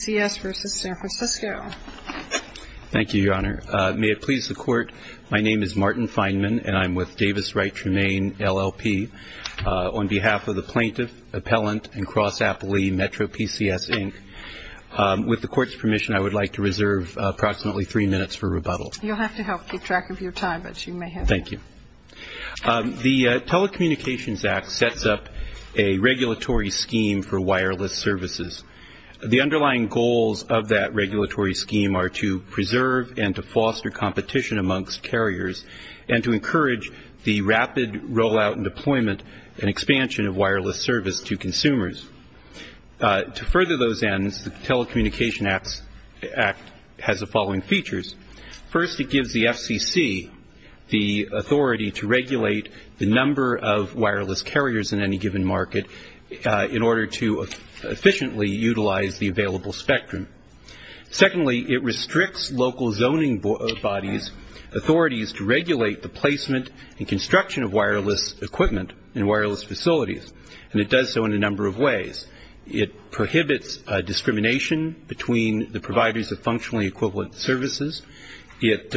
v. San Francisco. Thank you, Your Honor. May it please the Court, my name is Martin Feinman and I'm with Davis Wright Tremaine LLP on behalf of the plaintiff, appellant and cross-appellee MetroPCS, Inc. With the Court's permission, I would like to reserve approximately three minutes for rebuttal. You'll have to help keep track of your time, but you may have it. Thank you. The Telecommunications Act sets up a regulatory scheme for wireless services. The underlying goals of that regulatory scheme are to preserve and to foster competition amongst carriers and to encourage the rapid rollout and deployment and expansion of wireless service to consumers. To further those ends, the Telecommunications Act has the following features. First, it gives the FCC the authority to regulate the number of wireless carriers in any given market in order to efficiently utilize the available spectrum. Secondly, it restricts local zoning bodies' authorities to regulate the placement and construction of wireless equipment and wireless facilities, and it does so in a number of ways. It prohibits discrimination between the providers of functionally equivalent services. It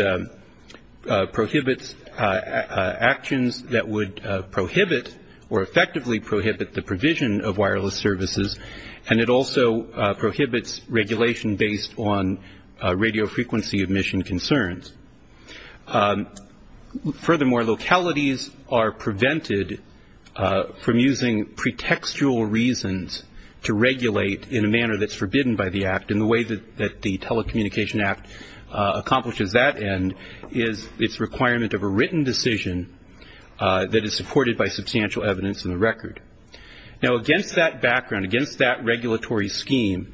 prohibits actions that would prohibit or effectively prohibit the provision of wireless services, and it also prohibits regulation based on radiofrequency emission concerns. Furthermore, localities are prevented from using pretextual reasons to regulate in a manner that's forbidden by the Act, and the way that the Telecommunications Act accomplishes that end is its requirement of a written decision that is supported by substantial evidence in the record. Now, against that background, against that regulatory scheme,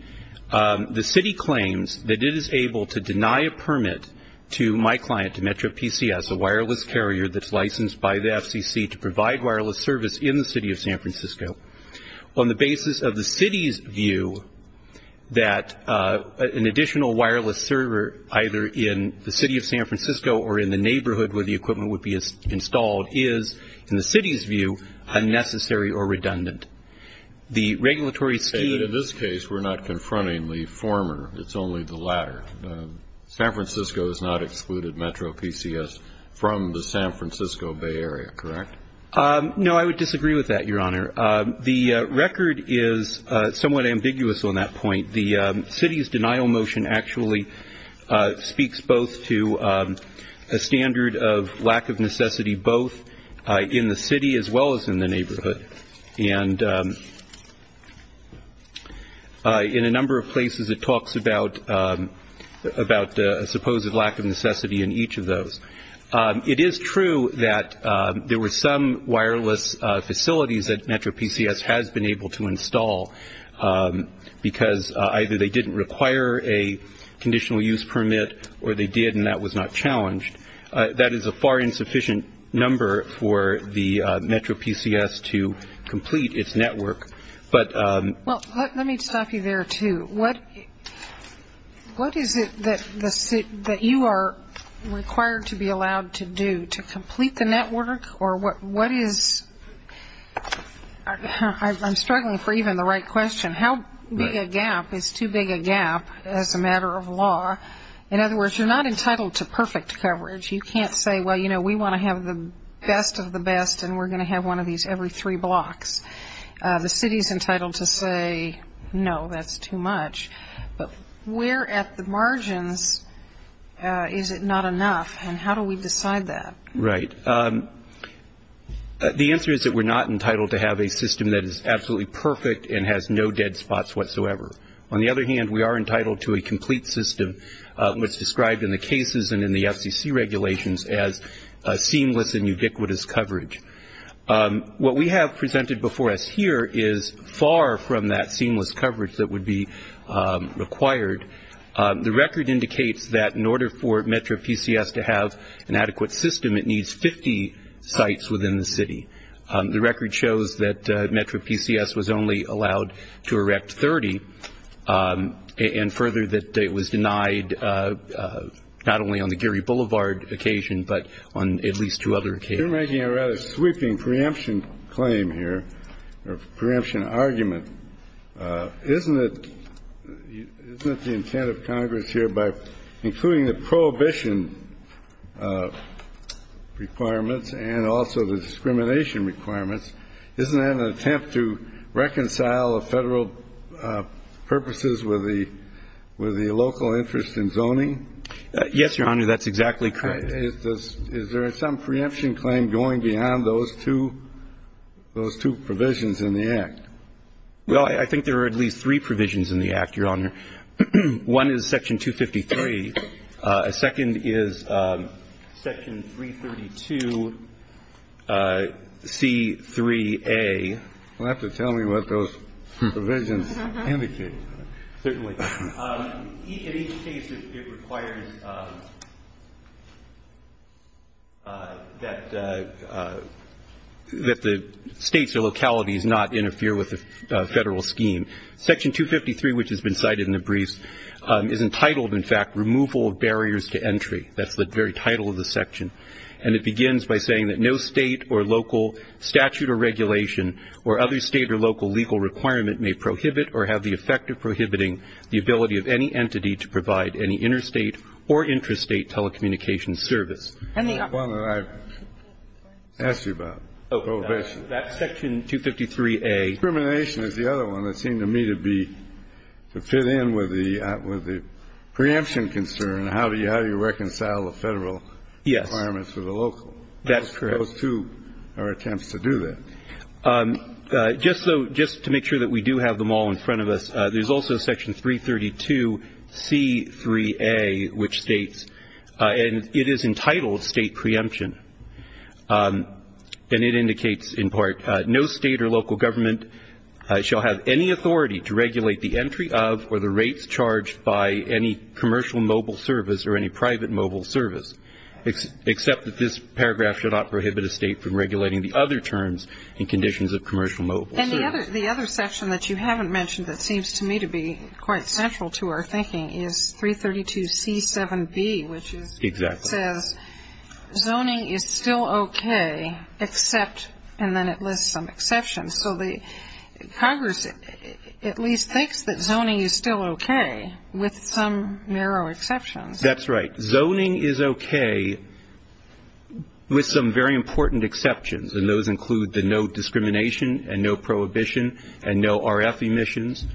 the City claims that it is able to deny a permit to my client, to Metro PCS, a wireless carrier that's licensed by the FCC to provide wireless service in the City of San Francisco on the basis of the City's view that an additional wireless server, either in the City of San Francisco or in the neighborhood where the equipment would be installed, is, in the City's view, unnecessary or redundant. The regulatory scheme... In this case, we're not confronting the former. It's only the latter. San Francisco has not excluded Metro PCS from the San Francisco Bay Area, correct? No, I would disagree with that, Your Honor. The record is somewhat ambiguous on that point. The City's denial motion actually speaks both to a standard of lack of necessity both in the City as well as in the neighborhood, and in a number of places it talks about a supposed lack of necessity in each of those. It is true that there were some wireless facilities that Metro PCS has been able to install because either they didn't require a conditional use permit or they did and that was not challenged. That is a far insufficient number for the Metro PCS to complete its network, but... Well, let me stop you there, too. What is it that you are required to be allowed to do to complete the network or what is... I'm struggling for even the right question. How big a gap is too big a gap as a matter of law? In other words, you're not entitled to perfect coverage. You can't say, well, you know, we want to have the best of the best and we're going to have one of these every three blocks. The City's entitled to say, no, that's too much, but we're at the margins. Is it not enough and how do we decide that? Right. The answer is that we're not entitled to have a system that is absolutely perfect and has no dead spots whatsoever. On the other hand, we are entitled to a complete system which is described in the cases and in the FCC regulations as seamless and ubiquitous coverage. What we have presented before us here is far from that seamless coverage that would be required. The record indicates that in order for Metro PCS to have an adequate system, it needs 50 sites within the city. The record shows that Metro PCS was only allowed to erect 30 and further that it was denied not only on the Geary Boulevard occasion, but on at least two other occasions. You're making a rather sweeping preemption claim here or preemption argument. Isn't it the intent of Congress here by including the prohibition requirements and also the discrimination requirements, isn't that an attempt to reconcile a Federal purposes with the local interest in zoning? Yes, Your Honor, that's exactly correct. Is there some preemption claim going beyond those two provisions in the Act? Well, I think there are at least three provisions in the Act, Your Honor. One is Section 253. A second is Section 332C3A. You'll have to tell me what those provisions indicate. Certainly. In each case, it requires that the states or localities not interfere with the Federal scheme. Section 253, which has been cited in the briefs, is entitled, in fact, Removal of Barriers to Entry. That's the very title of the section. And it begins by saying that no state or local statute or regulation or other state or local legal requirement may prohibit or have the effect of prohibiting the ability of any entity to provide any interstate or intrastate telecommunications service. And the other one that I asked you about, prohibition. That's Section 253A. Discrimination is the other one that seemed to me to be to fit in with the preemption concern. How do you reconcile the Federal requirements with the local? Yes, that's correct. Those two are attempts to do that. Just to make sure that we do have them all in front of us, there's also Section 332C3A, which states and it is entitled State Preemption. And it indicates in part, no state or local government shall have any authority to regulate the entry of or the rates charged by any commercial mobile service or any private mobile service, except that this paragraph should not prohibit a state from regulating the other terms and conditions of commercial mobile service. And the other section that you haven't mentioned that seems to me to be quite central to our thinking is 332C7B, which is Exactly. It says, zoning is still okay, except, and then it lists some exceptions. So the Congress at least thinks that zoning is still okay, with some narrow exceptions. That's right. Zoning is okay, with some very important exceptions, and those include the no discrimination and no prohibition and no RF emissions,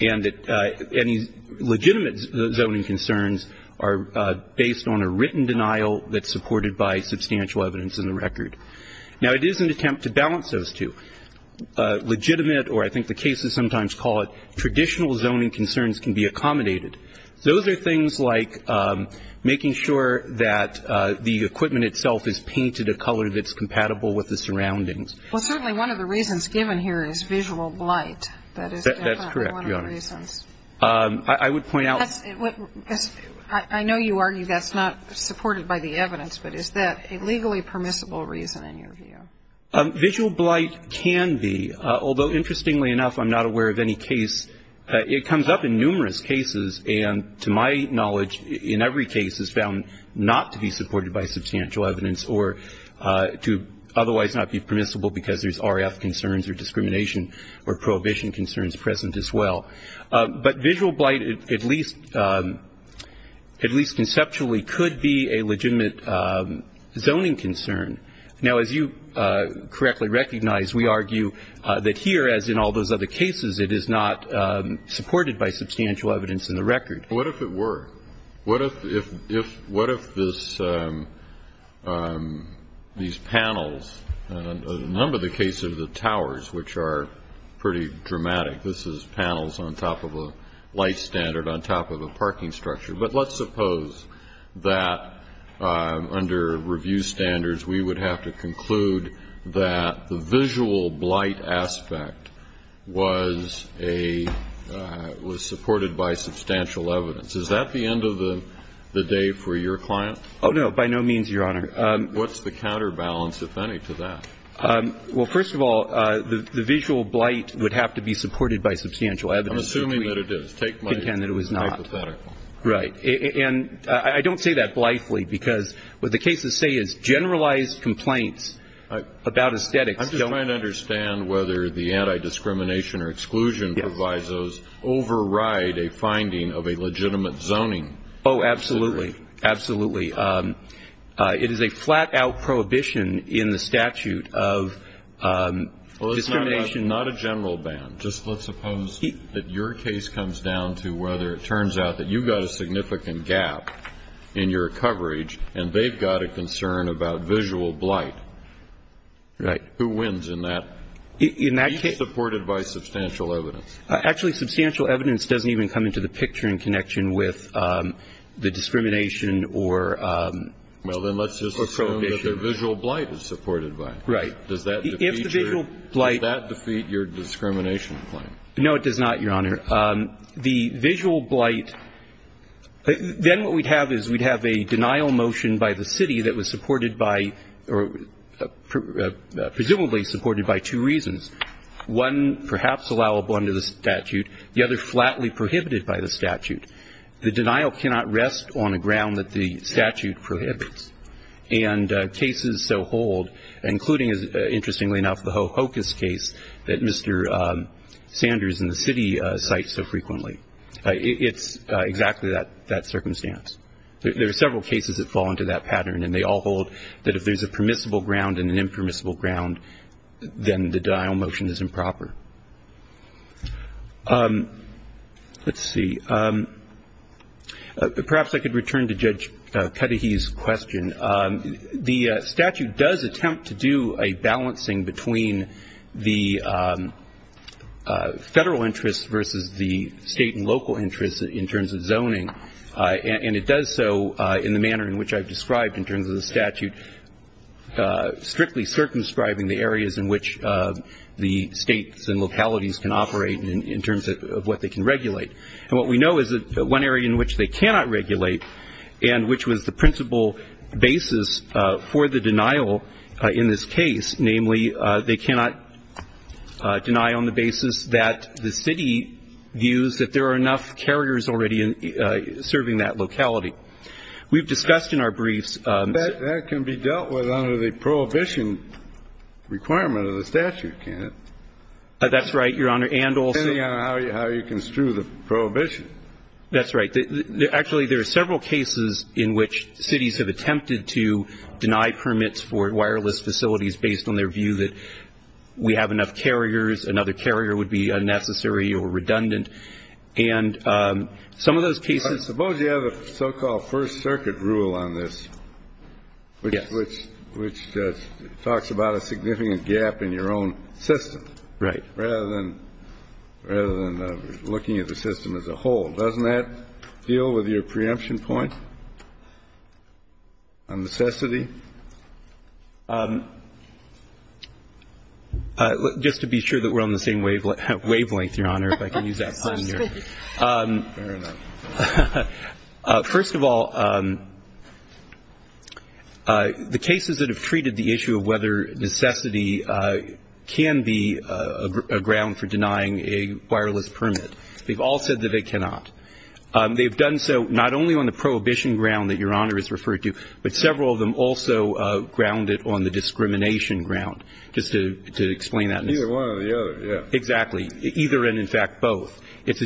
and that any legitimate zoning concerns are based on a written denial that's supported by substantial evidence in the record. Now, it is an attempt to balance those two. Legitimate, or I think the cases sometimes call it traditional zoning concerns can be accommodated. Those are things like making sure that the equipment itself is painted a color that's compatible with the surroundings. Well, certainly one of the reasons given here is visual blight. That is definitely one of the reasons. That's correct, Your Honor. I would point out I know you argue that's not supported by the evidence, but is that a legally permissible reason in your view? Visual blight can be, although interestingly enough I'm not aware of any case, it comes up in numerous cases and to my knowledge in every case is found not to be supported by substantial evidence or to otherwise not be permissible because there's RF concerns or discrimination or prohibition concerns present as well. But visual blight at least conceptually could be a legitimate zoning concern. Now, as you correctly recognize, we argue that here, as in all those other cases, it is not supported by substantial evidence in the record. What if it were? What if these panels, in a number of the cases of the towers, which are pretty dramatic, this is panels on top of a light standard on top of a parking structure. But let's suppose that under review standards, we would have to conclude that the visual blight aspect was a, was supported by substantial evidence. Is that the end of the day for your client? Oh, no. By no means, Your Honor. What's the counterbalance, if any, to that? Well, first of all, the visual blight would have to be supported by substantial evidence. I'm assuming that it is. Take my hypothetical. Right. And I don't say that blithely because what the cases say is generalized complaints about aesthetics don't I'm just trying to understand whether the anti-discrimination or exclusion provisos override a finding of a legitimate zoning. Oh, absolutely. Absolutely. It is a flat-out prohibition in the statute of discrimination Well, it's not a general ban. Just let's suppose that your case comes down to whether it turns out that you've got a significant gap in your coverage and they've got a concern about visual blight. Right. Who wins in that? In that case Be supported by substantial evidence. Actually, substantial evidence doesn't even come into the picture in connection with the discrimination or Well, then let's just assume that the visual blight is supported by. Right. Does that defeat your discrimination claim? No, it does not, Your Honor. The visual blight, then what we'd have is we'd have a denial motion by the city that was supported by or presumably supported by two reasons. One, perhaps allowable under the statute. The other, flatly prohibited by the statute. The denial cannot rest on a ground that the statute prohibits. And cases so hold, including, interestingly enough, the Hocus case that Mr. Sanders in the city cites so frequently. It's exactly that circumstance. There are several cases that fall into that pattern, and they all hold that if there's a permissible ground and an impermissible ground, then the denial motion is improper. Let's see. Perhaps I could return to Judge Cudahy's question. The statute does attempt to do a balancing between the federal interest versus the state and local interest in terms of zoning. And it does so in the manner in which I've described in terms of the statute, strictly circumscribing the areas in which the states and localities can operate in terms of what they can regulate. And what we know is that one area in which they cannot regulate and which was the principal basis for the denial in this case, namely they cannot deny on the basis that the city views that there are enough carriers already serving that locality. We've discussed in our briefs. That can be dealt with under the prohibition requirement of the statute, can't it? That's right, Your Honor, and also- Depending on how you construe the prohibition. That's right. Actually, there are several cases in which cities have attempted to deny permits for wireless facilities based on their view that we have enough carriers, another carrier would be unnecessary or redundant. And some of those cases- Suppose you have a so-called first circuit rule on this which talks about a significant gap in your own system. Right. Rather than looking at the system as a whole. Doesn't that deal with your preemption point on necessity? Just to be sure that we're on the same wavelength, Your Honor, if I can use that term here. First of all, the cases that have treated the issue of whether necessity can be a ground for denying a wireless permit, they've all said that they cannot. They've done so not only on the prohibition ground that Your Honor has referred to, but several of them also ground it on the discrimination ground, just to explain that. Either one or the other, yeah. Exactly. Either and, in fact, both. It's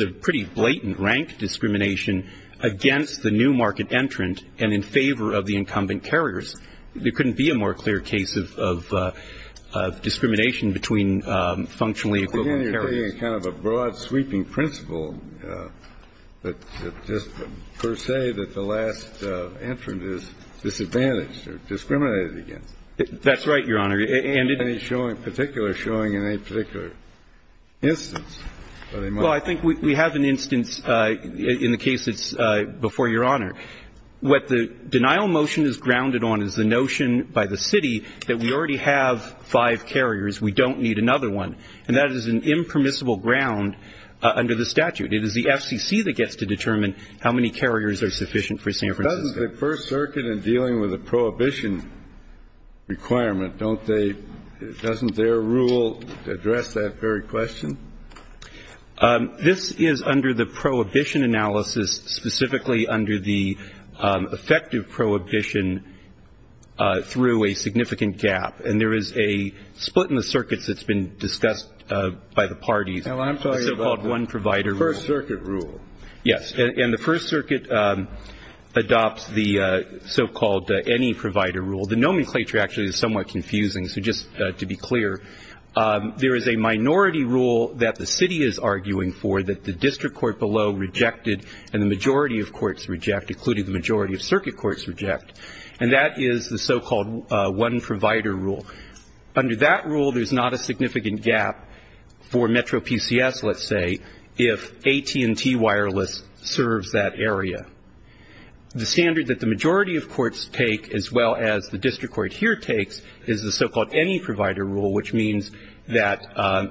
a pretty blatant rank discrimination against the new market entrant and in favor of the incumbent carriers. There couldn't be a more clear case of discrimination between functionally equivalent carriers. Again, you're taking kind of a broad sweeping principle, but just per se that the last entrant is disadvantaged or discriminated against. That's right, Your Honor. And any particular showing in any particular instance? Well, I think we have an instance in the case that's before Your Honor. What the denial motion is grounded on is the notion by the city that we already have five carriers. We don't need another one. And that is an impermissible ground under the statute. It is the FCC that gets to determine how many carriers are sufficient for San Francisco. Doesn't the First Circuit in dealing with the prohibition requirement, doesn't their rule address that very question? This is under the prohibition analysis, specifically under the effective prohibition through a significant gap. And there is a split in the circuits that's been discussed by the parties. I'm talking about the First Circuit rule. Yes, and the First Circuit adopts the so-called any provider rule. The nomenclature actually is somewhat confusing. So just to be clear, there is a minority rule that the city is arguing for that the district court below rejected, and the majority of courts reject, including the majority of circuit courts reject. And that is the so-called one provider rule. Under that rule, there's not a significant gap for Metro PCS, let's say, if AT&T Wireless serves that area. The standard that the majority of courts take, as well as the district court here takes, is the so-called any provider rule, which means that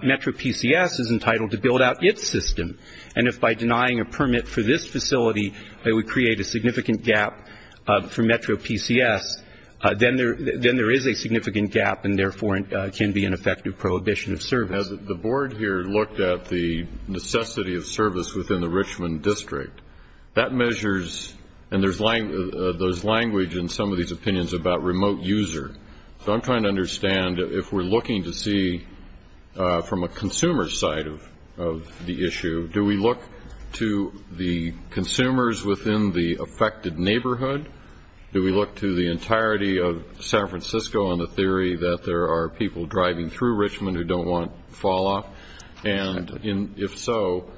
Metro PCS is entitled to build out its system. And if by denying a permit for this facility, it would create a significant gap for Metro PCS, then there is a significant gap and, therefore, can be an effective prohibition of service. As the board here looked at the necessity of service within the Richmond district, that measures and there's language in some of these opinions about remote user. So I'm trying to understand if we're looking to see from a consumer side of the issue, do we look to the consumers within the affected neighborhood? Do we look to the entirety of San Francisco on the theory that there are people driving through Richmond who don't want falloff? And if so,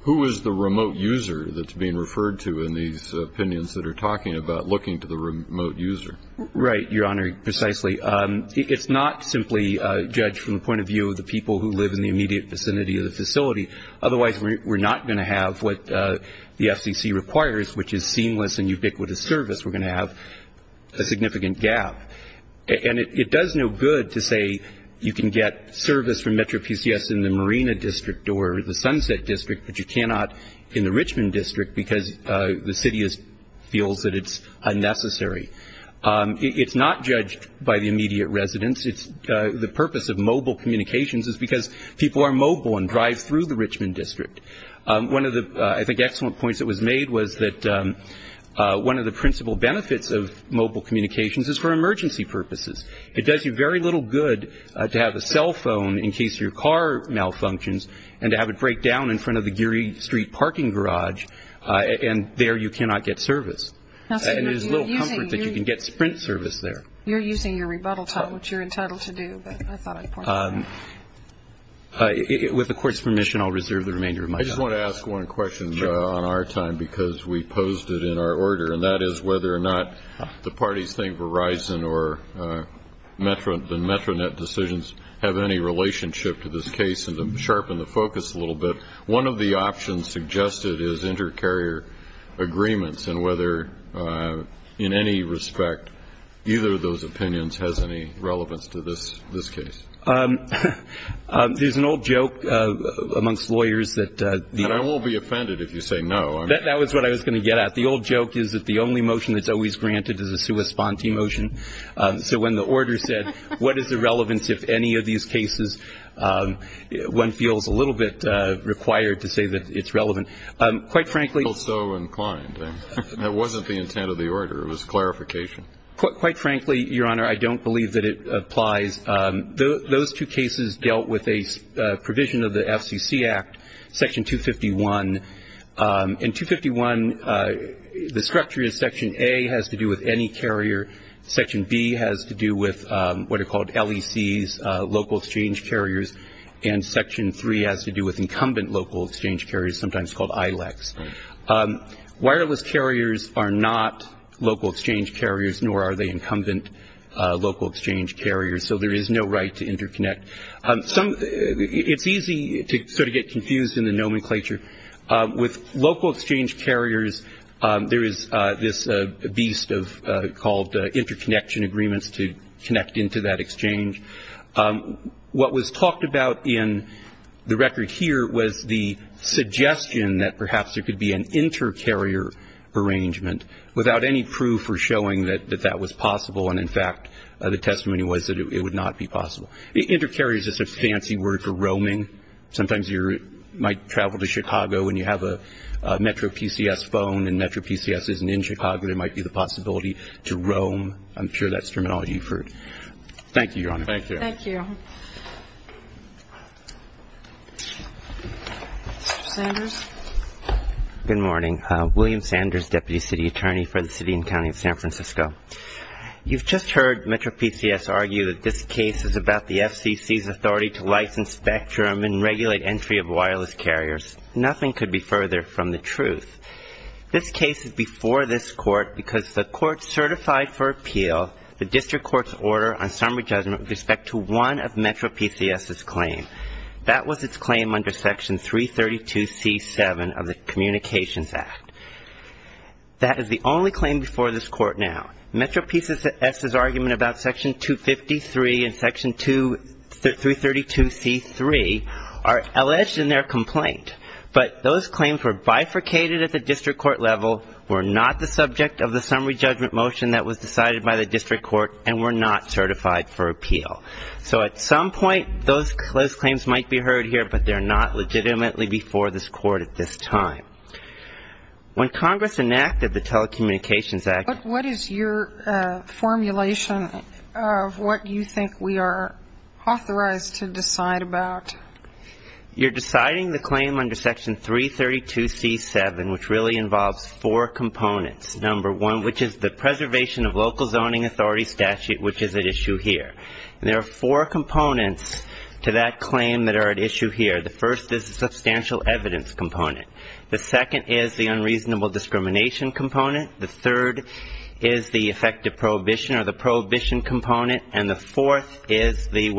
who is the remote user that's being referred to in these opinions that are talking about looking to the remote user? Right, Your Honor, precisely. It's not simply judged from the point of view of the people who live in the immediate vicinity of the facility. Otherwise, we're not going to have what the FCC requires, which is seamless and ubiquitous service. We're going to have a significant gap. And it does no good to say you can get service from Metro PCS in the Marina district or the Sunset district, but you cannot in the Richmond district because the city feels that it's unnecessary. It's not judged by the immediate residents. The purpose of mobile communications is because people are mobile and drive through the Richmond district. One of the, I think, excellent points that was made was that one of the principal benefits of mobile communications is for emergency purposes. It does you very little good to have a cell phone in case your car malfunctions and to have it break down in front of the Geary Street parking garage, and there you cannot get service. And there's little comfort that you can get Sprint service there. You're using your rebuttal time, which you're entitled to do, but I thought I'd point that out. With the Court's permission, I'll reserve the remainder of my time. I just want to ask one question on our time because we posed it in our order, and that is whether or not the parties think Verizon or the Metronet decisions have any relationship to this case. And to sharpen the focus a little bit, one of the options suggested is inter-carrier agreements and whether in any respect either of those opinions has any relevance to this case. There's an old joke amongst lawyers that the- And I won't be offended if you say no. That was what I was going to get at. The old joke is that the only motion that's always granted is a sua sponte motion. So when the order said, what is the relevance if any of these cases, one feels a little bit required to say that it's relevant. Quite frankly- I felt so inclined. That wasn't the intent of the order. It was clarification. Quite frankly, Your Honor, I don't believe that it applies. Those two cases dealt with a provision of the FCC Act, Section 251. In 251, the structure of Section A has to do with any carrier. Section B has to do with what are called LECs, local exchange carriers, and Section 3 has to do with incumbent local exchange carriers, sometimes called ILECs. Wireless carriers are not local exchange carriers, nor are they incumbent local exchange carriers. So there is no right to interconnect. It's easy to sort of get confused in the nomenclature. With local exchange carriers, there is this beast called interconnection agreements to connect into that exchange. What was talked about in the record here was the suggestion that perhaps there could be an inter-carrier arrangement, without any proof or showing that that was possible. And, in fact, the testimony was that it would not be possible. Inter-carrier is just a fancy word for roaming. Sometimes you might travel to Chicago and you have a MetroPCS phone, and MetroPCS isn't in Chicago, there might be the possibility to roam. I'm sure that's terminology you've heard. Thank you, Your Honor. Thank you. Thank you. Mr. Sanders. Good morning. William Sanders, Deputy City Attorney for the City and County of San Francisco. You've just heard MetroPCS argue that this case is about the FCC's authority to license spectrum and regulate entry of wireless carriers. Nothing could be further from the truth. This case is before this court because the court certified for appeal the district court's order on summary judgment with respect to one of MetroPCS's claims. That was its claim under Section 332C-7 of the Communications Act. That is the only claim before this court now. MetroPCS's argument about Section 253 and Section 232C-3 are alleged in their complaint, but those claims were bifurcated at the district court level, were not the subject of the summary judgment motion that was decided by the district court, and were not certified for appeal. So at some point, those claims might be heard here, but they're not legitimately before this court at this time. When Congress enacted the Telecommunications Act ---- But what is your formulation of what you think we are authorized to decide about? You're deciding the claim under Section 332C-7, which really involves four components. Number one, which is the preservation of local zoning authority statute, which is at issue here. And there are four components to that claim that are at issue here. The first is the substantial evidence component. The second is the unreasonable discrimination component. The third is the effective prohibition or the prohibition component. And the fourth is the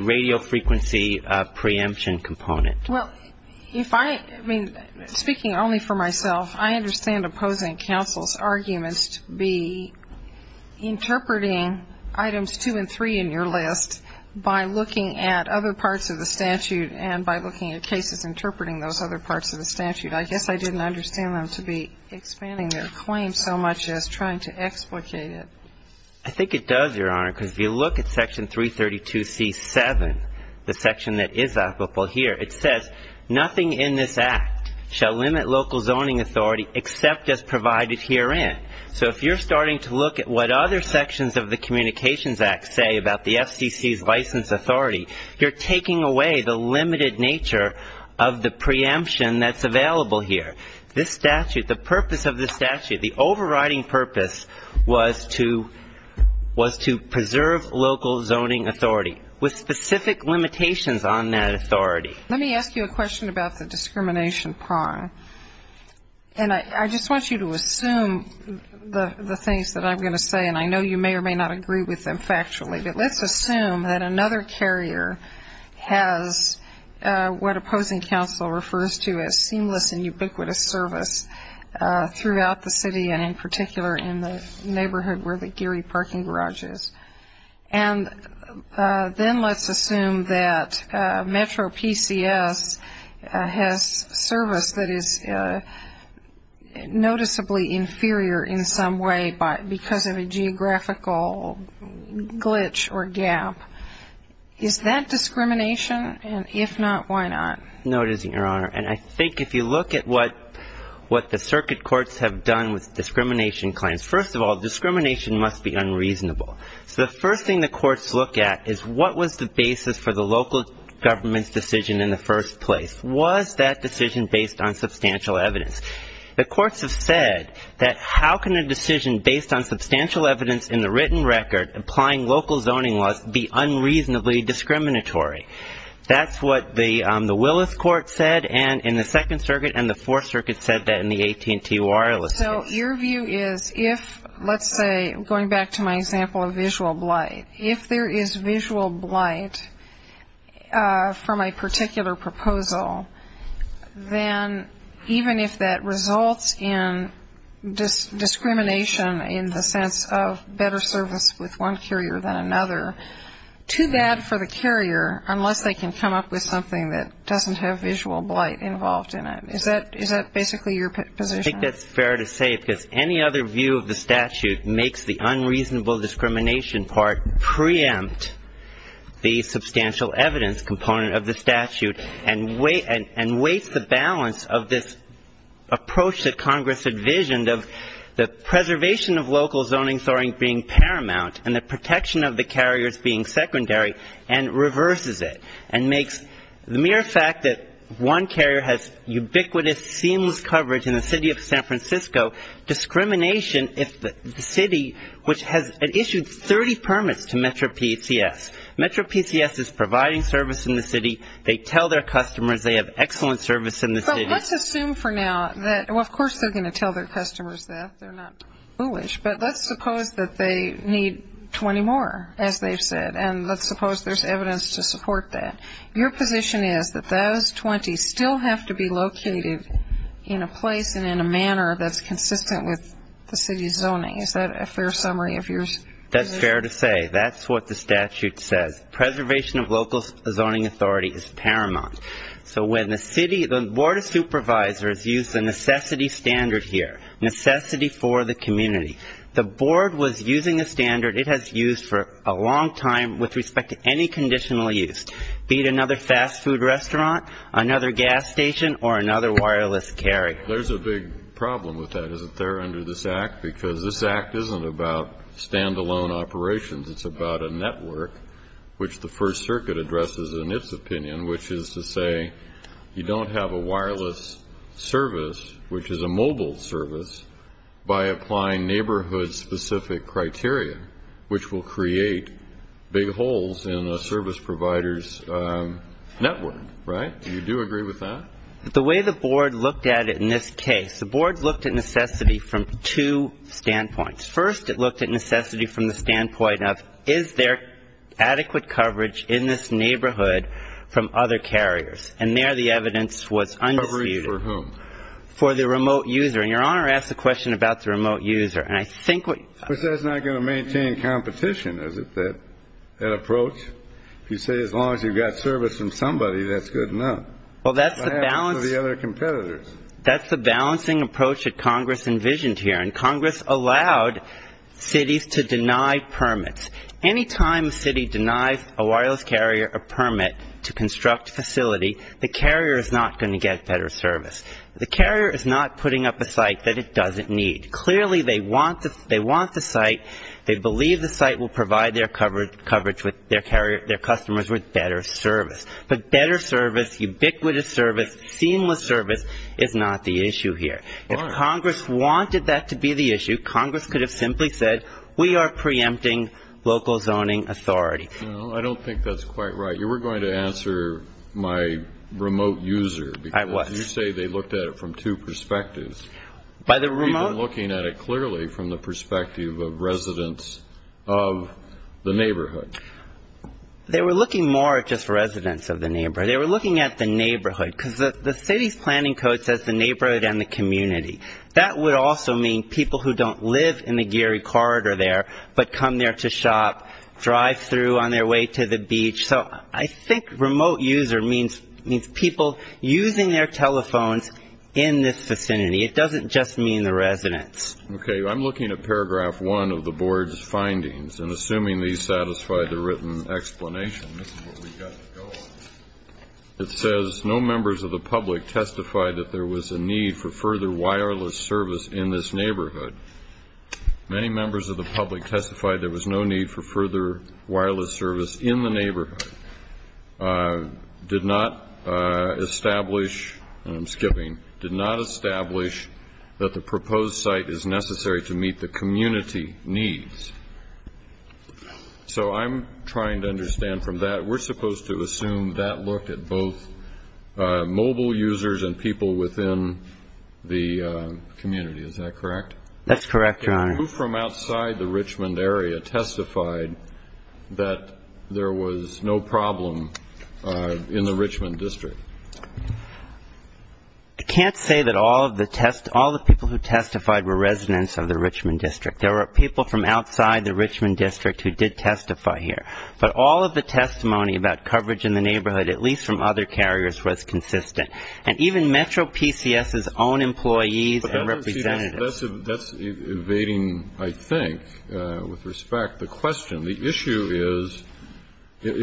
radio frequency preemption component. Well, if I ---- I mean, speaking only for myself, I understand opposing counsel's arguments to be interpreting items two and three in your list by looking at other parts of the statute and by looking at cases interpreting those other parts of the statute. I guess I didn't understand them to be expanding their claim so much as trying to explicate it. I think it does, Your Honor, because if you look at Section 332C-7, the section that is applicable here, it says nothing in this act shall limit local zoning authority except as provided herein. So if you're starting to look at what other sections of the Communications Act say about the FCC's license authority, you're taking away the limited nature of the preemption that's available here. This statute, the purpose of this statute, the overriding purpose was to preserve local zoning authority with specific limitations on that authority. Let me ask you a question about the discrimination prong. And I just want you to assume the things that I'm going to say, and I know you may or may not agree with them factually, but let's assume that another carrier has what opposing counsel refers to as seamless and ubiquitous service throughout the city and in particular in the neighborhood where the Geary parking garage is. And then let's assume that Metro PCS has service that is noticeably inferior in some way because of a geographical glitch or gap. Is that discrimination? And if not, why not? No, it isn't, Your Honor. And I think if you look at what the circuit courts have done with discrimination claims, first of all, discrimination must be unreasonable. So the first thing the courts look at is what was the basis for the local government's decision in the first place. Was that decision based on substantial evidence? The courts have said that how can a decision based on substantial evidence in the written record applying local zoning laws be unreasonably discriminatory? That's what the Willis Court said in the Second Circuit, and the Fourth Circuit said that in the AT&T Wireless case. So your view is if, let's say, going back to my example of visual blight, if there is visual blight from a particular proposal, then even if that results in discrimination in the sense of better service with one carrier than another, too bad for the carrier unless they can come up with something that doesn't have visual blight involved in it. Is that basically your position? I think that's fair to say because any other view of the statute makes the unreasonable discrimination part preempt the substantial evidence component of the statute and weights the balance of this approach that Congress envisioned of the preservation of local zoning being paramount and the protection of the carriers being secondary and reverses it and makes the mere fact that one carrier has ubiquitous, seamless coverage in the city of San Francisco discrimination if the city, which has issued 30 permits to MetroPCS. MetroPCS is providing service in the city. They tell their customers they have excellent service in the city. But let's assume for now that, well, of course they're going to tell their customers that. They're not foolish. But let's suppose that they need 20 more, as they've said, and let's suppose there's evidence to support that. Your position is that those 20 still have to be located in a place and in a manner that's consistent with the city's zoning. Is that a fair summary of yours? That's fair to say. That's what the statute says. Preservation of local zoning authority is paramount. So when the city, the Board of Supervisors used the necessity standard here, necessity for the community. The Board was using a standard it has used for a long time with respect to any conditional use, be it another fast food restaurant, another gas station, or another wireless carry. There's a big problem with that, isn't there, under this Act? Because this Act isn't about stand-alone operations. It's about a network, which the First Circuit addresses in its opinion, which is to say you don't have a wireless service, which is a mobile service, by applying neighborhood-specific criteria, which will create big holes in a service provider's network, right? Do you do agree with that? The way the Board looked at it in this case, the Board looked at necessity from two standpoints. First, it looked at necessity from the standpoint of is there adequate coverage in this neighborhood from other carriers? And there the evidence was undisputed. Coverage for whom? For the remote user. And Your Honor asks a question about the remote user. And I think what you're saying. But that's not going to maintain competition, is it, that approach? If you say as long as you've got service from somebody, that's good enough. Well, that's the balance. What happens to the other competitors? That's the balancing approach that Congress envisioned here. And Congress allowed cities to deny permits. Any time a city denies a wireless carrier a permit to construct a facility, the carrier is not going to get better service. The carrier is not putting up a site that it doesn't need. Clearly they want the site. They believe the site will provide their coverage with their customers with better service. But better service, ubiquitous service, seamless service is not the issue here. If Congress wanted that to be the issue, Congress could have simply said, we are preempting local zoning authority. Well, I don't think that's quite right. You were going to answer my remote user. I was. You say they looked at it from two perspectives, even looking at it clearly from the perspective of residents of the neighborhood. They were looking more at just residents of the neighborhood. They were looking at the neighborhood, because the city's planning code says the neighborhood and the community. That would also mean people who don't live in the Geary Corridor there, but come there to shop, drive through on their way to the beach. So I think remote user means people using their telephones in this vicinity. It doesn't just mean the residents. Okay. I'm looking at paragraph one of the board's findings, and assuming these satisfy the written explanation, this is what we've got to go on. It says, no members of the public testified that there was a need for further wireless service in this neighborhood. Many members of the public testified there was no need for further wireless service in the neighborhood. Did not establish, and I'm skipping, did not establish that the proposed site is necessary to meet the community needs. So I'm trying to understand from that, we're supposed to assume that looked at both mobile users and people within the community. Is that correct? That's correct, Your Honor. Who from outside the Richmond area testified that there was no problem in the Richmond District? I can't say that all of the people who testified were residents of the Richmond District. There were people from outside the Richmond District who did testify here. But all of the testimony about coverage in the neighborhood, at least from other carriers, was consistent. And even Metro PCS's own employees and representatives. That's evading, I think, with respect, the question. The issue is,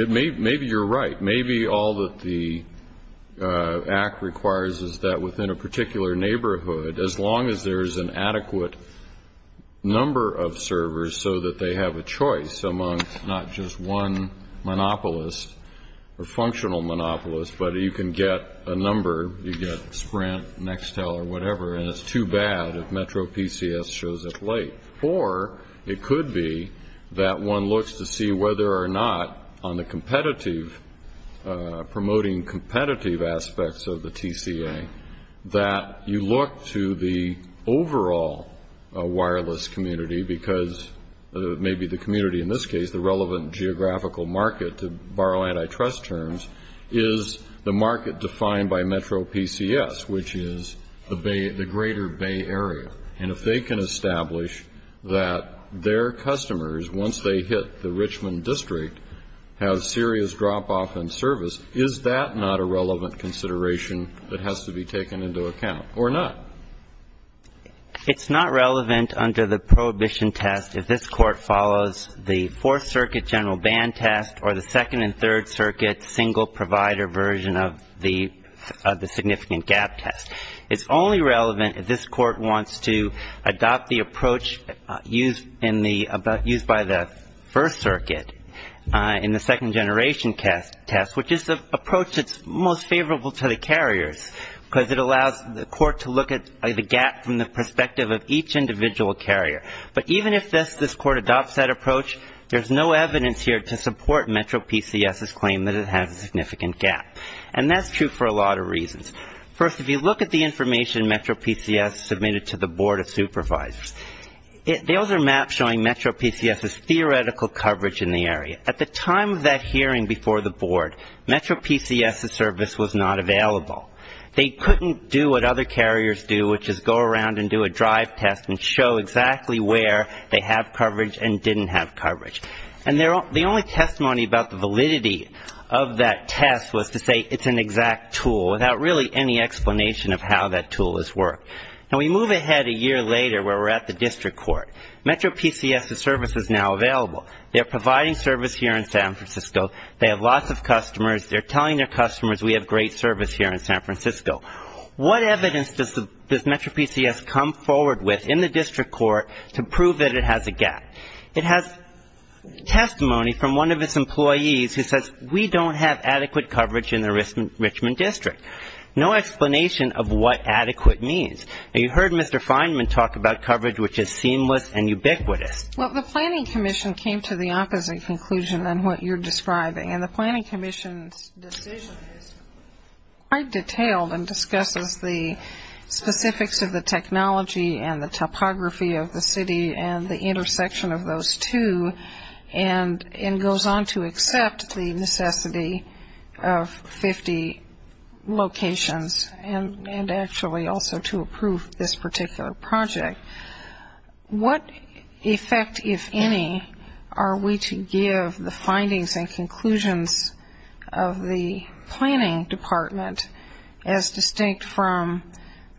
maybe you're right. Maybe all that the act requires is that within a particular neighborhood, as long as there is an adequate number of servers so that they have a choice among not just one monopolist, or functional monopolist, but you can get a number, you get Sprint, Nextel, or whatever, and it's too bad if Metro PCS shows up late. Or it could be that one looks to see whether or not on the competitive, promoting competitive aspects of the TCA, that you look to the overall wireless community, because maybe the community in this case, the relevant geographical market, to borrow antitrust terms, is the market defined by Metro PCS, which is the greater Bay Area. And if they can establish that their customers, once they hit the Richmond district, have serious drop-off in service, is that not a relevant consideration that has to be taken into account? Or not? It's not relevant under the prohibition test if this Court follows the Fourth Circuit general ban test, or the Second and Third Circuit single provider version of the significant gap test. It's only relevant if this Court wants to adopt the approach used in the, used by the First Circuit in the second generation test, which is the approach that's most favorable to the carriers, because it allows the Court to look at the gap from the perspective of each individual carrier. But even if this Court adopts that approach, there's no evidence here to support Metro PCS's claim that it has a significant gap. And that's true for a lot of reasons. First, if you look at the information Metro PCS submitted to the Board of Supervisors, those are maps showing Metro PCS's theoretical coverage in the area. At the time of that hearing before the Board, Metro PCS's service was not available. They couldn't do what other carriers do, which is go around and do a drive test and show exactly where they have coverage and didn't have coverage. And the only testimony about the validity of that test was to say it's an exact tool, without really any explanation of how that tool has worked. Now, we move ahead a year later where we're at the district court. Metro PCS's service is now available. They're providing service here in San Francisco. They have lots of customers. They're telling their customers we have great service here in San Francisco. What evidence does Metro PCS come forward with in the district court to prove that it has a gap? It has testimony from one of its employees who says, we don't have adequate coverage in the Richmond district. No explanation of what adequate means. You heard Mr. Feinman talk about coverage which is seamless and ubiquitous. Well, the planning commission came to the opposite conclusion than what you're describing. And the planning commission's decision is quite detailed and discusses the specifics of the technology and the topography of the city and the intersection of those two and goes on to accept the necessity of 50 locations and actually also to approve this particular project. What effect, if any, are we to give the findings and conclusions of the planning department as distinct from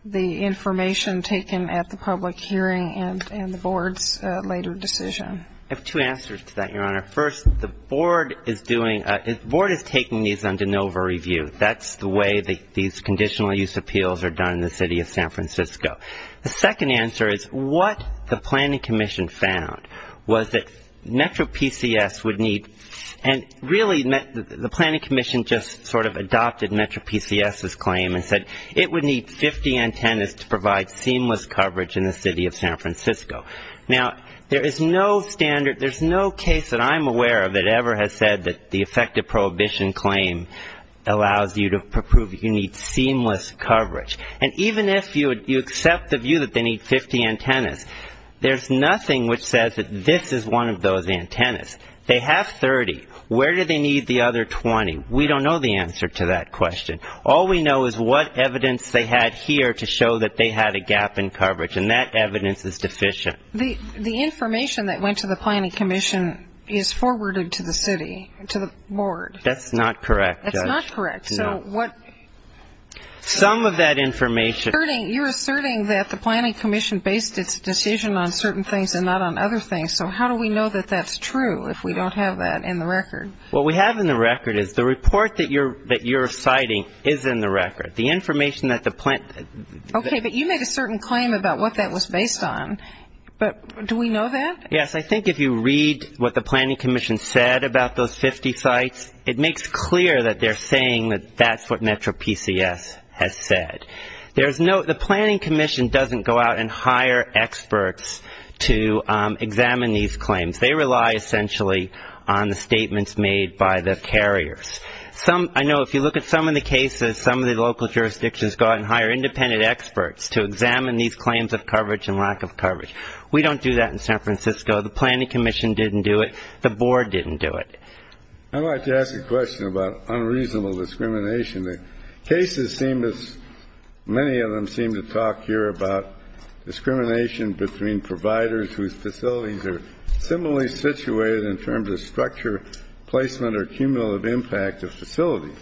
the information taken at the public hearing and the board's later decision? I have two answers to that, Your Honor. First, the board is taking these on de novo review. That's the way these conditional use appeals are done in the city of San Francisco. The second answer is what the planning commission found was that Metro PCS would need and really the planning commission just sort of adopted Metro PCS's claim and said it would need 50 antennas to provide seamless coverage in the city of San Francisco. Now, there is no standard, there's no case that I'm aware of that ever has said that the effective prohibition claim allows you to prove you need seamless coverage. And even if you accept the view that they need 50 antennas, there's nothing which says that this is one of those antennas. They have 30. Where do they need the other 20? We don't know the answer to that question. All we know is what evidence they had here to show that they had a gap in coverage, and that evidence is deficient. The information that went to the planning commission is forwarded to the city, to the board. That's not correct, Judge. That's not correct. Some of that information. You're asserting that the planning commission based its decision on certain things and not on other things, so how do we know that that's true if we don't have that in the record? What we have in the record is the report that you're citing is in the record. The information that the plan --. Okay, but you make a certain claim about what that was based on, but do we know that? Yes, I think if you read what the planning commission said about those 50 sites, it makes clear that they're saying that that's what Metro PCS has said. The planning commission doesn't go out and hire experts to examine these claims. They rely essentially on the statements made by the carriers. I know if you look at some of the cases, some of the local jurisdictions go out and hire independent experts to examine these claims of coverage and lack of coverage. We don't do that in San Francisco. The planning commission didn't do it. The board didn't do it. I'd like to ask a question about unreasonable discrimination. The cases seem to, many of them seem to talk here about discrimination between providers whose facilities are similarly situated in terms of structure, placement, or cumulative impact of facilities.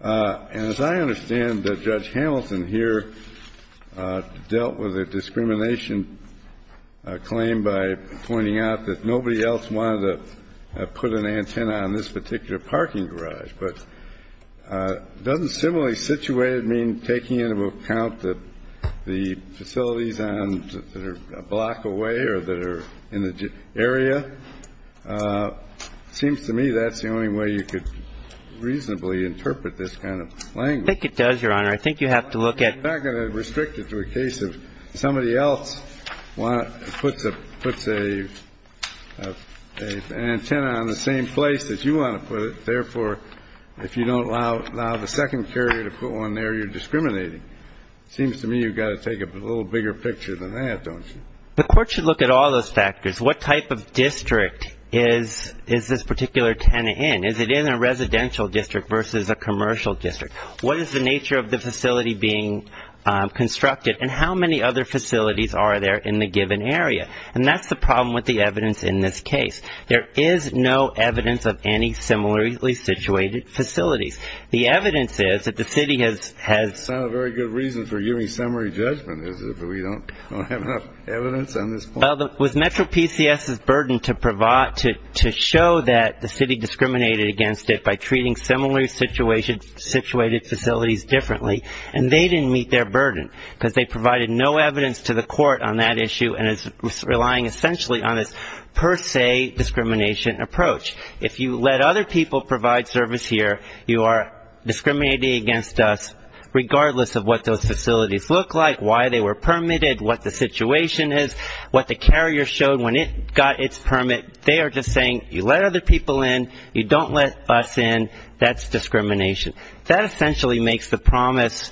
And as I understand, Judge Hamilton here dealt with a discrimination claim by pointing out that nobody else wanted to put an antenna on this particular parking garage. But doesn't similarly situated mean taking into account that the facilities that are a block away or that are in the area? It seems to me that's the only way you could reasonably interpret this kind of language. I think it does, Your Honor. I think you have to look at. I'm not going to restrict it to a case of somebody else puts an antenna on the same place that you want to put it. Therefore, if you don't allow the second carrier to put one there, you're discriminating. It seems to me you've got to take a little bigger picture than that, don't you? The court should look at all those factors. What type of district is this particular antenna in? Is it in a residential district versus a commercial district? What is the nature of the facility being constructed? And how many other facilities are there in the given area? And that's the problem with the evidence in this case. There is no evidence of any similarly situated facilities. The evidence is that the city has... It's not a very good reason for giving summary judgment, is it, that we don't have enough evidence on this point? Well, it was Metro PCS's burden to show that the city discriminated against it by treating similarly situated facilities differently. And they didn't meet their burden because they provided no evidence to the court on that issue and is relying essentially on this per se discrimination approach. If you let other people provide service here, you are discriminating against us, regardless of what those facilities look like, why they were permitted, what the situation is, what the carrier showed when it got its permit. They are just saying you let other people in, you don't let us in, that's discrimination. That essentially makes the promise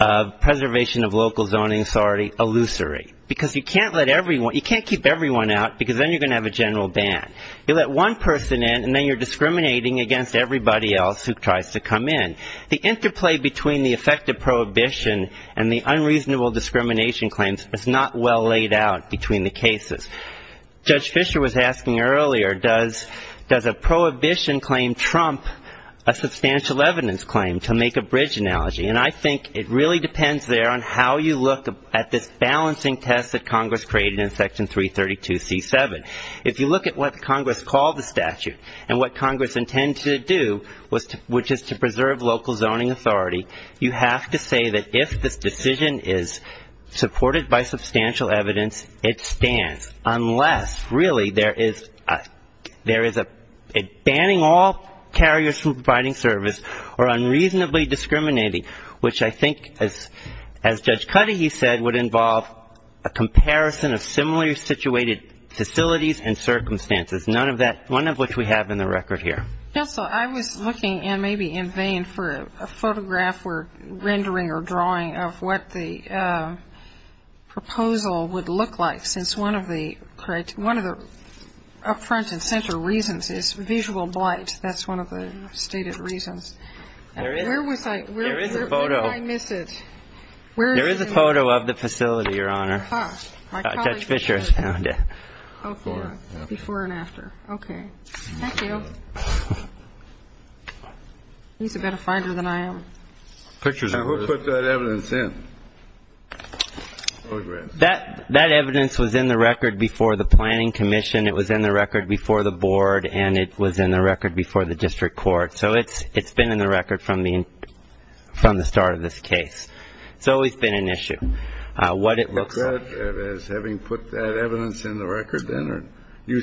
of preservation of local zoning authority illusory because you can't let everyone... you can't keep everyone out because then you're going to have a general ban. You let one person in and then you're discriminating against everybody else who tries to come in. The interplay between the effective prohibition and the unreasonable discrimination claims is not well laid out between the cases. Judge Fischer was asking earlier, does a prohibition claim trump a substantial evidence claim to make a bridge analogy? And I think it really depends there on how you look at this balancing test that Congress created in Section 332C7. If you look at what Congress called the statute and what Congress intended to do, which is to preserve local zoning authority, you have to say that if this decision is supported by substantial evidence, it stands, unless really there is a banning all carriers from providing service or unreasonably discriminating, which I think as Judge Cuddy, he said, would involve a comparison of similar situated facilities and circumstances. None of that, one of which we have in the record here. Counsel, I was looking and maybe in vain for a photograph or rendering or drawing of what the proposal would look like, since one of the up front and center reasons is visual blight. That's one of the stated reasons. And where was I? There is a photo. Where did I miss it? There is a photo of the facility, Your Honor. Ah. Judge Fischer has found it. Before and after. Before and after. Okay. Thank you. He's a better finder than I am. Who put that evidence in? That evidence was in the record before the planning commission. It was in the record before the board, and it was in the record before the district court. So it's been in the record from the start of this case. It's always been an issue. What it looks like. As having put that evidence in the record then? You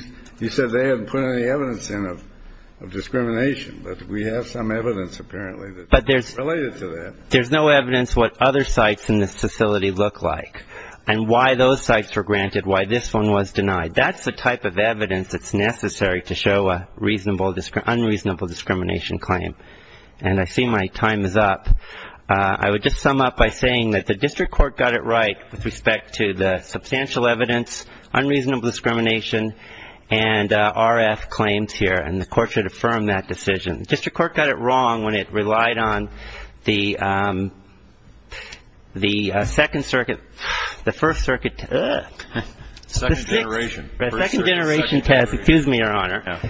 said they hadn't put any evidence in of discrimination, but we have some evidence apparently that's related to that. But there's no evidence what other sites in this facility look like and why those sites were granted, why this one was denied. That's the type of evidence that's necessary to show an unreasonable discrimination claim. And I see my time is up. I would just sum up by saying that the district court got it right with respect to the substantial evidence, unreasonable discrimination, and RF claims here, and the court should affirm that decision. District court got it wrong when it relied on the second circuit, the first circuit. Second generation. The second generation test. Excuse me, Your Honor.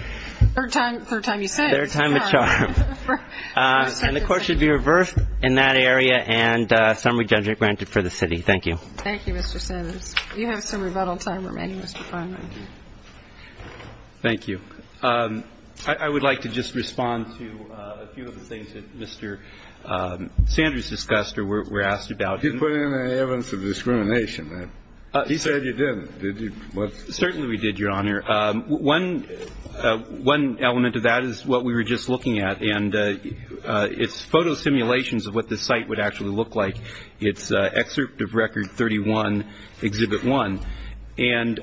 Third time you said it. Third time the charm. And the court should be reversed in that area and summary judgment granted for the city. Thank you. Thank you, Mr. Simmons. You have some rebuttal time remaining, Mr. Feinberg. Thank you. I would like to just respond to a few of the things that Mr. Sanders discussed or were asked about. Did you put in any evidence of discrimination there? He said you didn't. Did you? Certainly we did, Your Honor. One element of that is what we were just looking at, and it's photo simulations of what the site would actually look like. It's excerpt of Record 31, Exhibit 1. And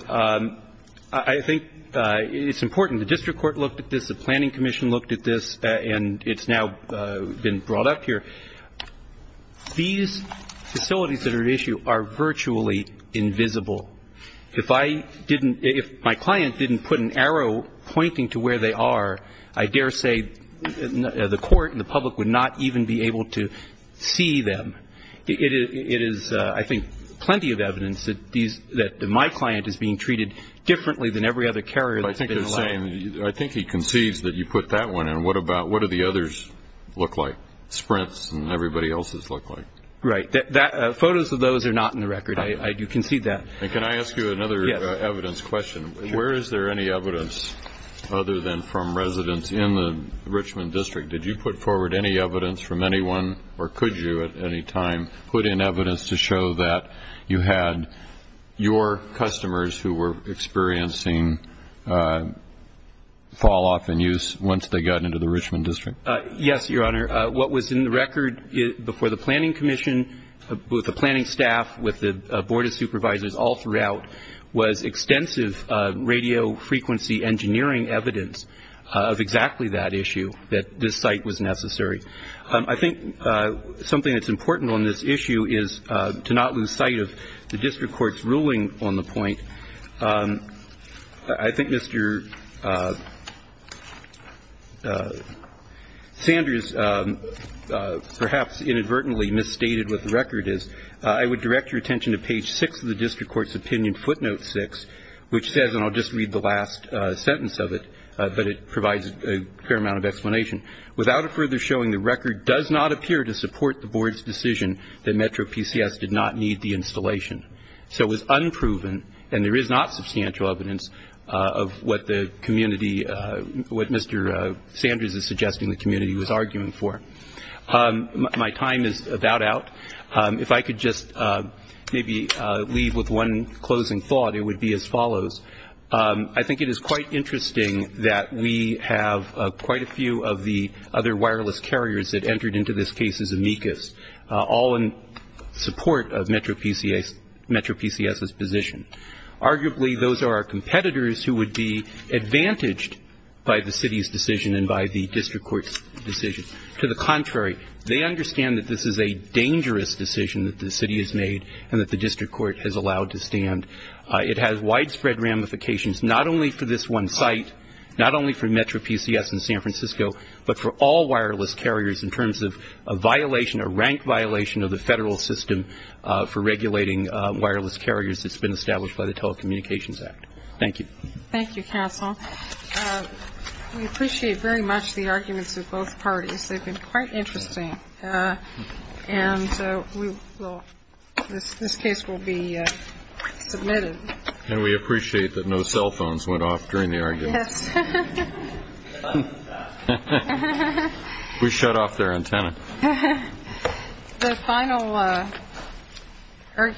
I think it's important. The district court looked at this. The planning commission looked at this, and it's now been brought up here. These facilities that are at issue are virtually invisible. If I didn't, if my client didn't put an arrow pointing to where they are, I dare say the court and the public would not even be able to see them. It is, I think, plenty of evidence that my client is being treated differently than every other carrier. I think he concedes that you put that one in. What about what do the others look like, sprints and everybody else's look like? Right. Photos of those are not in the record. I do concede that. And can I ask you another evidence question? Where is there any evidence other than from residents in the Richmond district? Did you put forward any evidence from anyone, or could you at any time, put in evidence to show that you had your customers who were experiencing fall off in use once they got into the Richmond district? Yes, Your Honor. What was in the record before the planning commission, with the planning staff, with the Board of Supervisors all throughout, was extensive radio frequency engineering evidence of exactly that issue, that this site was necessary. I think something that's important on this issue is to not lose sight of the district court's ruling on the point. I think Mr. Sanders perhaps inadvertently misstated what the record is. I would direct your attention to page six of the district court's opinion, footnote six, which says, and I'll just read the last sentence of it, but it provides a fair amount of explanation. Without it further showing, the record does not appear to support the board's decision that Metro PCS did not need the installation. So it was unproven, and there is not substantial evidence of what the community, what Mr. Sanders is suggesting the community was arguing for. My time is about out. If I could just maybe leave with one closing thought, it would be as follows. I think it is quite interesting that we have quite a few of the other wireless carriers that entered into this case as amicus, all in support of Metro PCS's position. Arguably, those are our competitors who would be advantaged by the city's decision and by the district court's decision. To the contrary, they understand that this is a dangerous decision that the city has made and that the district court has allowed to stand. It has widespread ramifications, not only for this one site, not only for Metro PCS in San Francisco, but for all wireless carriers in terms of a violation, a rank violation, of the federal system for regulating wireless carriers that's been established by the Telecommunications Act. Thank you. Thank you, counsel. We appreciate very much the arguments of both parties. They've been quite interesting. And this case will be submitted. And we appreciate that no cell phones went off during the argument. Yes. We shut off their antenna. The final argument.